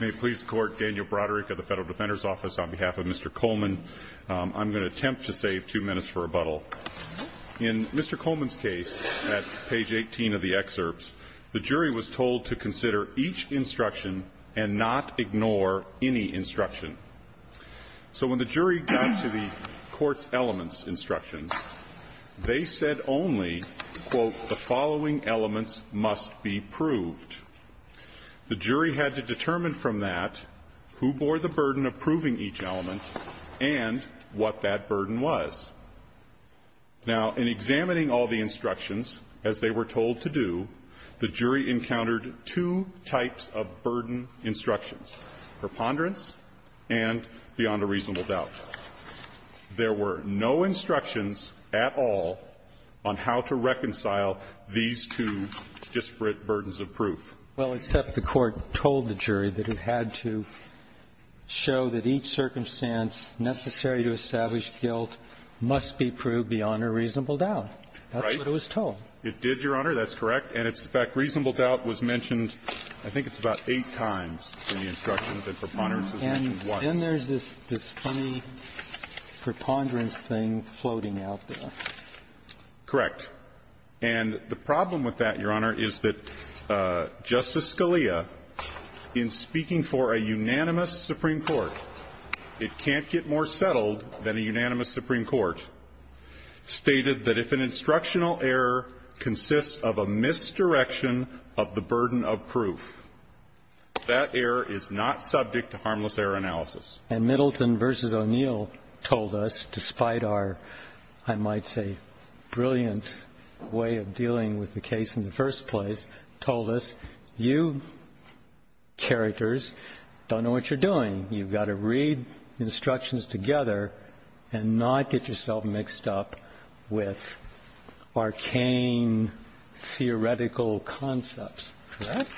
May it please the Court, Daniel Broderick of the Federal Defender's Office on behalf of Mr. Coleman. I'm going to attempt to save two minutes for rebuttal. In Mr. Coleman's case at page 18 of the excerpts, the jury was told to consider each instruction and not ignore any instruction. So when the jury got to the court's elements instructions, they said only, quote, the following elements must be proved. The jury had to determine from that who bore the burden of proving each element and what that burden was. Now, in examining all the instructions, as they were told to do, the jury encountered two types of burden instructions, preponderance and beyond a reasonable doubt. There were no instructions at all on how to reconcile these two disparate burdens of proof. Well, except the Court told the jury that it had to show that each circumstance necessary to establish guilt must be proved beyond a reasonable doubt. Right. That's what it was told. It did, Your Honor. That's correct. And it's the fact reasonable doubt was mentioned, I think it's about eight times in the instructions that preponderance was mentioned once. And then there's this funny preponderance thing floating out there. Correct. And the problem with that, Your Honor, is that Justice Scalia, in speaking for a unanimous Supreme Court, it can't get more settled than a unanimous Supreme Court, stated that if an instructional error consists of a misdirection of the burden of proof, that error is not subject to harmless error analysis. And Middleton v. O'Neill told us, despite our, I might say, brilliant way of dealing with the case in the first place, told us, you characters don't know what you're doing. You've got to read instructions together and not get yourself mixed up with arcane theoretical concepts. Correct?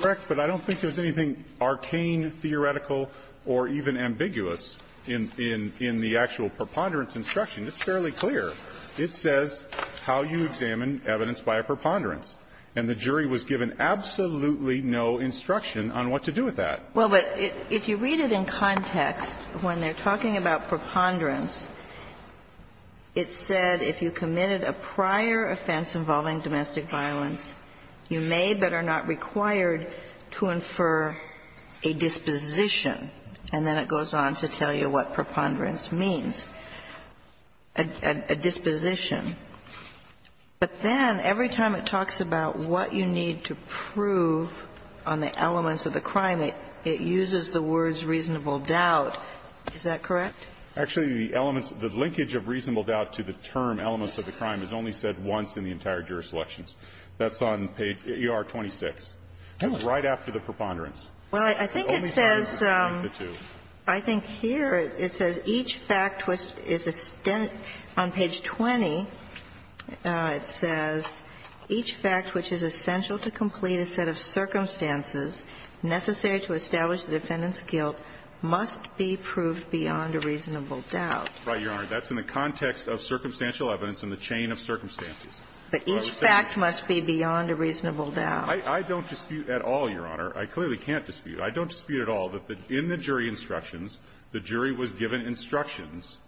Correct, but I don't think there's anything arcane, theoretical, or even ambiguous in the actual preponderance instruction. It's fairly clear. It says how you examine evidence by a preponderance, and the jury was given absolutely no instruction on what to do with that. Well, but if you read it in context, when they're talking about preponderance, it said if you committed a prior offense involving domestic violence, you may better know that you're not required to infer a disposition. And then it goes on to tell you what preponderance means, a disposition. But then every time it talks about what you need to prove on the elements of the crime, it uses the words reasonable doubt. Is that correct? Actually, the elements of the linkage of reasonable doubt to the term elements of the crime is only said once in the entire jury selections. That's on page ER-26. It's right after the preponderance. Well, I think it says the two. I think here it says each fact which is a stint on page 20, it says, each fact which is essential to complete a set of circumstances necessary to establish the defendant's guilt must be proved beyond a reasonable doubt. Right, Your Honor. That's in the context of circumstantial evidence in the chain of circumstances. But each fact must be beyond a reasonable doubt. I don't dispute at all, Your Honor. I clearly can't dispute. I don't dispute at all that in the jury instructions, the jury was given instructions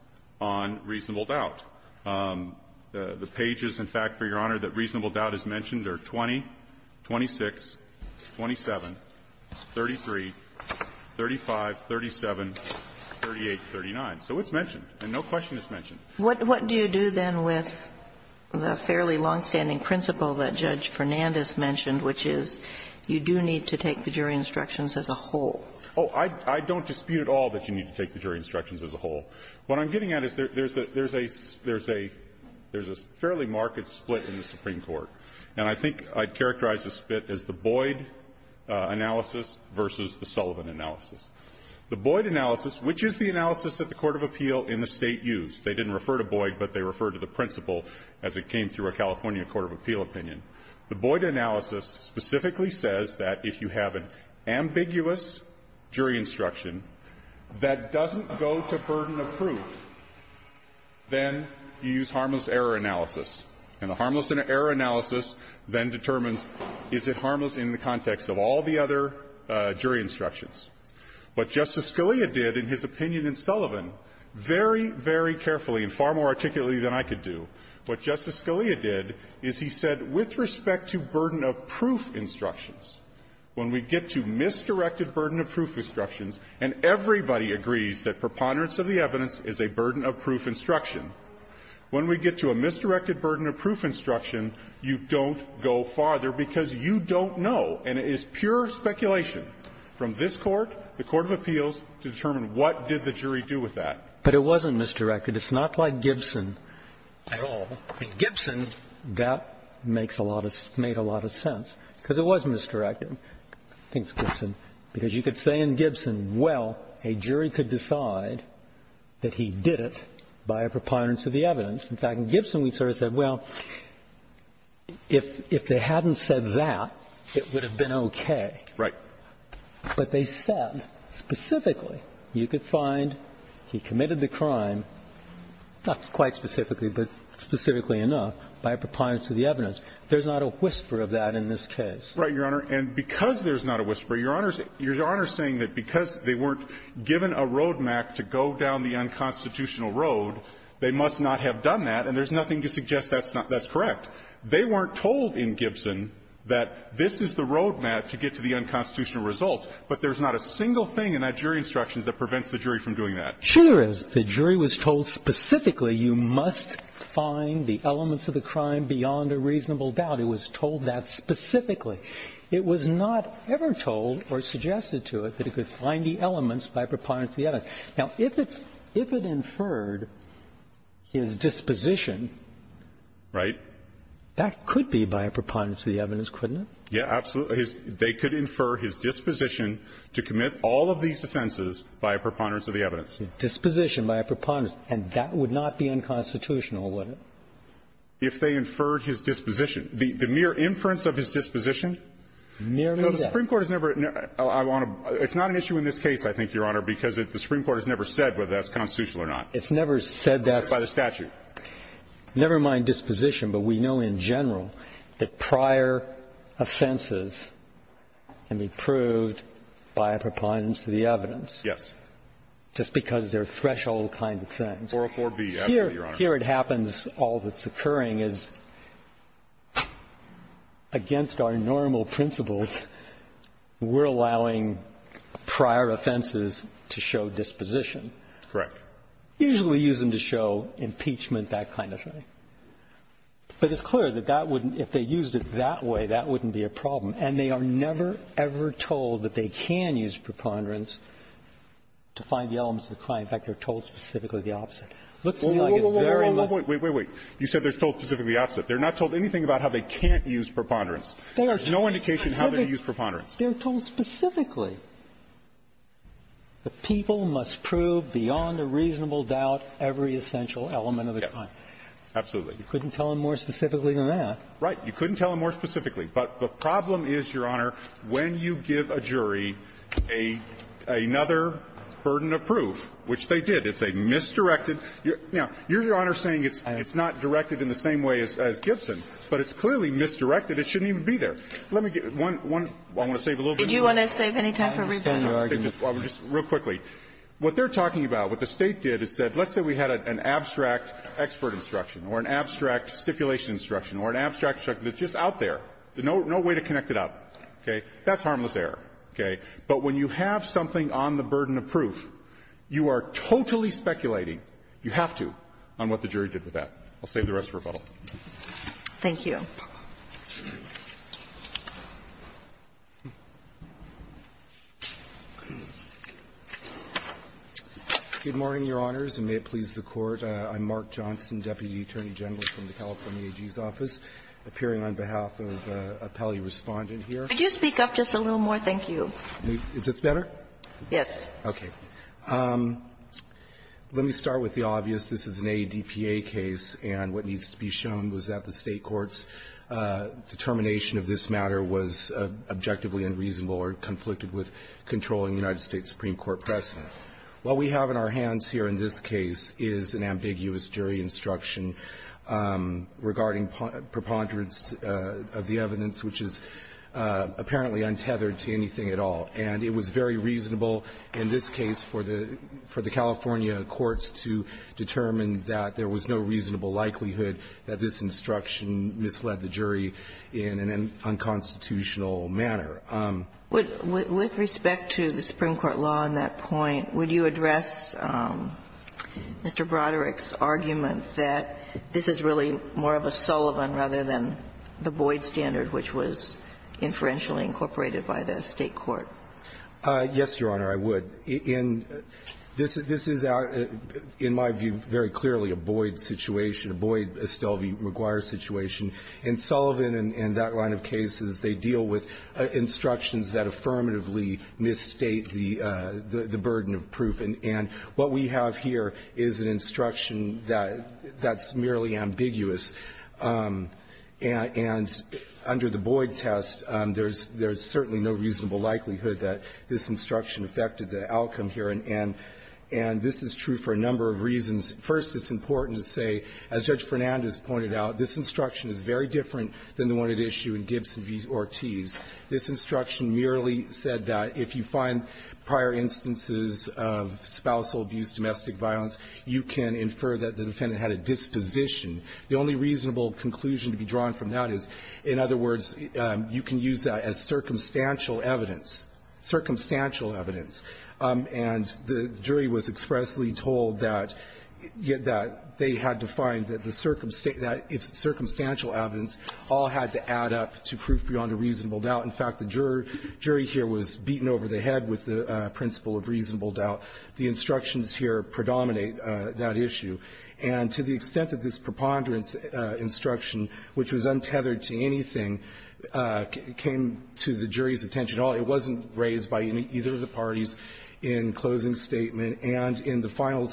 on reasonable doubt. The pages, in fact, for Your Honor, that reasonable doubt is mentioned are 20, 26, 27, 33, 35, 37, 38, 39. So it's mentioned, and no question it's mentioned. What do you do, then, with the fairly longstanding principle that Judge Fernandes mentioned, which is you do need to take the jury instructions as a whole? Oh, I don't dispute at all that you need to take the jury instructions as a whole. What I'm getting at is there's a fairly marked split in the Supreme Court. And I think I'd characterize the split as the Boyd analysis versus the Sullivan analysis. The Boyd analysis, which is the analysis that the court of appeal in the State used. They didn't refer to Boyd, but they referred to the principle as it came through a California court of appeal opinion. The Boyd analysis specifically says that if you have an ambiguous jury instruction that doesn't go to burden of proof, then you use harmless error analysis. And the harmless error analysis then determines is it harmless in the context of all the other jury instructions. What Justice Scalia did in his opinion in Sullivan, very, very carefully and far more articulately than I could do, what Justice Scalia did is he said with respect to burden of proof instructions, when we get to misdirected burden of proof instructions and everybody agrees that preponderance of the evidence is a burden of proof instruction, when we get to a misdirected burden of proof instruction, you don't go farther because you don't know. And it is pure speculation from this Court, the court of appeals, to determine what did the jury do with that. But it wasn't misdirected. It's not like Gibson at all. In Gibson, that makes a lot of – made a lot of sense, because it was misdirected, I think it's Gibson. Because you could say in Gibson, well, a jury could decide that he did it by a preponderance of the evidence. In fact, in Gibson, we sort of said, well, if they hadn't said that, it would have been okay. Right. But they said specifically, you could find he committed the crime, not quite specifically, but specifically enough, by a preponderance of the evidence. There's not a whisper of that in this case. Right, Your Honor. And because there's not a whisper, Your Honor's saying that because they weren't given a road map to go down the unconstitutional road, they must not have done that. And there's nothing to suggest that's not – that's correct. They weren't told in Gibson that this is the road map to get to the unconstitutional results. But there's not a single thing in that jury instruction that prevents the jury from doing that. Sure there is. The jury was told specifically, you must find the elements of the crime beyond a reasonable doubt. It was told that specifically. It was not ever told or suggested to it that it could find the elements by a preponderance of the evidence. Now, if it's – if it inferred his disposition – Right. That could be by a preponderance of the evidence, couldn't it? Yeah, absolutely. They could infer his disposition to commit all of these offenses by a preponderance of the evidence. Disposition by a preponderance. And that would not be unconstitutional, would it? If they inferred his disposition. The mere inference of his disposition? Merely that. No, the Supreme Court has never – I want to – it's not an issue in this case, I think, Your Honor, because the Supreme Court has never said whether that's constitutional or not. It's never said that's – By the statute. Never mind disposition, but we know in general that prior offenses can be proved by a preponderance of the evidence. Just because they're threshold kind of things. 404B, absolutely, Your Honor. Here it happens all that's occurring is against our normal principles, we're allowing prior offenses to show disposition. Correct. Usually we use them to show impeachment, that kind of thing. But it's clear that that wouldn't – if they used it that way, that wouldn't be a problem. And they are never, ever told that they can use preponderance to find the elements of the crime. In fact, they're told specifically the opposite. It looks to me like it's very much – Wait, wait, wait. You said they're told specifically the opposite. They're not told anything about how they can't use preponderance. There's no indication how they use preponderance. They're told specifically. The people must prove beyond a reasonable doubt every essential element of the crime. Yes. Absolutely. You couldn't tell them more specifically than that. Right. You couldn't tell them more specifically. But the problem is, Your Honor, when you give a jury another burden of proof, which the State did, it's a misdirected – now, you're, Your Honor, saying it's not directed in the same way as Gibson, but it's clearly misdirected. It shouldn't even be there. Let me get one – I want to save a little bit of time. Did you want to save any time for rebuttal? I'm sorry to interrupt. Just real quickly. What they're talking about, what the State did, is said, let's say we had an abstract expert instruction or an abstract stipulation instruction or an abstract instruction that's just out there, no way to connect it up, okay? That's harmless error, okay? But when you have something on the burden of proof, you are totally speculating – you have to – on what the jury did with that. I'll save the rest for rebuttal. Thank you. Good morning, Your Honors, and may it please the Court. I'm Mark Johnson, Deputy Attorney General from the California AG's office, appearing on behalf of a pally Respondent here. Could you speak up just a little more? Thank you. Is this better? Yes. Okay. Let me start with the obvious. This is an ADPA case, and what needs to be shown was that the State court's determination of this matter was objectively unreasonable or conflicted with controlling the United States Supreme Court precedent. What we have in our hands here in this case is an ambiguous jury instruction regarding preponderance of the evidence, which is apparently untethered to anything at all, and it was very reasonable in this case for the California courts to determine that there was no reasonable likelihood that this instruction misled the jury in an unconstitutional manner. With respect to the Supreme Court law on that point, would you address Mr. Broderick's argument that this is really more of a Sullivan rather than the Boyd standard, which was inferentially incorporated by the State court? Yes, Your Honor, I would. In this is, in my view, very clearly a Boyd situation, a Boyd-Estelvi-McGuire situation. In Sullivan and that line of cases, they deal with instructions that affirmatively misstate the burden of proof, and what we have here is an instruction that's merely ambiguous, and under the Boyd test, there's certainly no reasonable likelihood that this instruction affected the outcome here, and this is true for a number of reasons. First, it's important to say, as Judge Fernandez pointed out, this instruction is very different than the one at issue in Gibson v. Ortiz. This instruction merely said that if you find prior instances of spousal abuse, domestic violence, you can infer that the defendant had a disposition. The only reasonable conclusion to be drawn from that is, in other words, you can use that as circumstantial evidence, circumstantial evidence, and the jury was expressly told that they had to find that the circumstantial evidence all had to add up to proof beyond a reasonable doubt. In fact, the jury here was beaten over the head with the principle of reasonable doubt. The instructions here predominate that issue. And to the extent that this preponderance instruction, which was untethered to anything, came to the jury's attention at all, it wasn't raised by either of the parties in closing statement, and in the final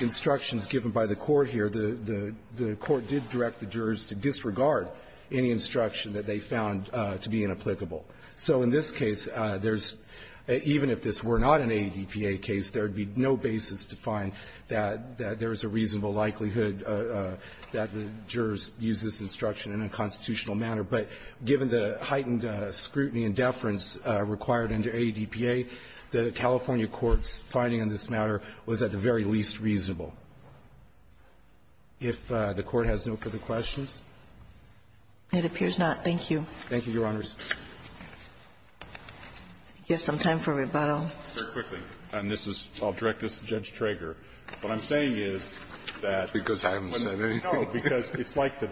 instructions given by the Court here, the Court did direct the jurors to disregard any instruction that they found to be inapplicable. So in this case, there's – even if this were not an AEDPA case, there would be no basis to find that there's a reasonable likelihood that the jurors use this instruction in a constitutional manner. But given the heightened scrutiny and deference required under AEDPA, the California court's finding on this matter was at the very least reasonable. If the Court has no further questions? It appears not. Thank you. Thank you, Your Honors. I'll give some time for rebuttal. Very quickly. And this is – I'll direct this to Judge Trager. What I'm saying is that – Because I haven't said anything. No, because it's like the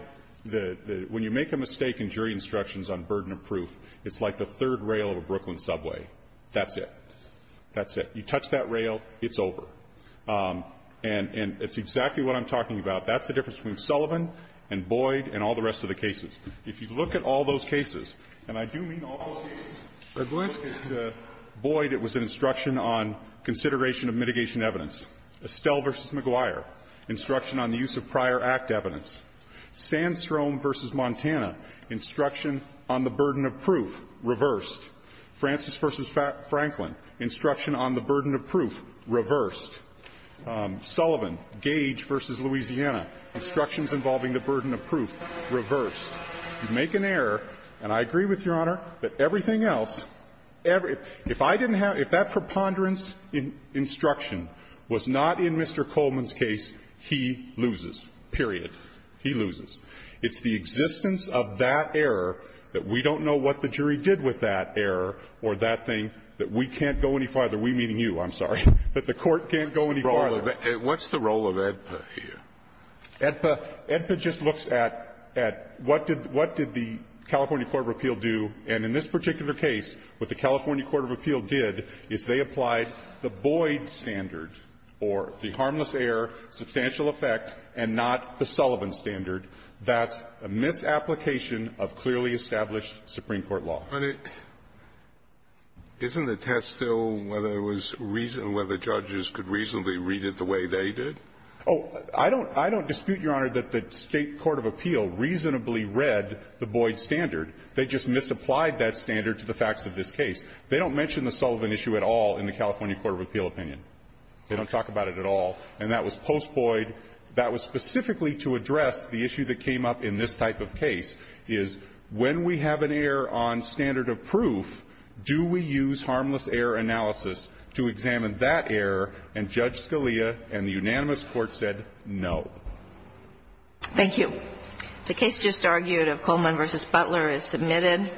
– when you make a mistake in jury instructions on burden of proof, it's like the third rail of a Brooklyn subway. That's it. That's it. You touch that rail, it's over. And it's exactly what I'm talking about. That's the difference between Sullivan and Boyd and all the rest of the cases. If you look at all those cases, and I do mean all those cases, Boyd, it was an instruction on consideration of mitigation evidence. Estelle v. McGuire, instruction on the use of prior act evidence. Sandstrom v. Montana, instruction on the burden of proof reversed. Francis v. Franklin, instruction on the burden of proof reversed. Sullivan, Gage v. Louisiana, instructions involving the burden of proof reversed. You make an error, and I agree with Your Honor that everything else – if I didn't have – if that preponderance instruction was not in Mr. Coleman's case, he loses, period. He loses. It's the existence of that error that we don't know what the jury did with that error or that thing that we can't go any farther – we meaning you, I'm sorry – that the Court can't go any farther. What's the role of AEDPA here? Edpa just looks at what did the California court of appeal do, and in this particular case, what the California court of appeal did is they applied the Boyd standard, or the harmless error, substantial effect, and not the Sullivan standard. That's a misapplication of clearly established Supreme Court law. But it – isn't the test still whether it was – whether judges could reasonably read it the way they did? Oh, I don't – I don't dispute, Your Honor, that the State court of appeal reasonably read the Boyd standard. They just misapplied that standard to the facts of this case. They don't mention the Sullivan issue at all in the California court of appeal opinion. They don't talk about it at all. And that was post-Boyd. That was specifically to address the issue that came up in this type of case, is when we have an error on standard of proof, do we use harmless error analysis to examine that error, and Judge Scalia and the unanimous court said no. Thank you. The case just argued of Coleman v. Butler is submitted.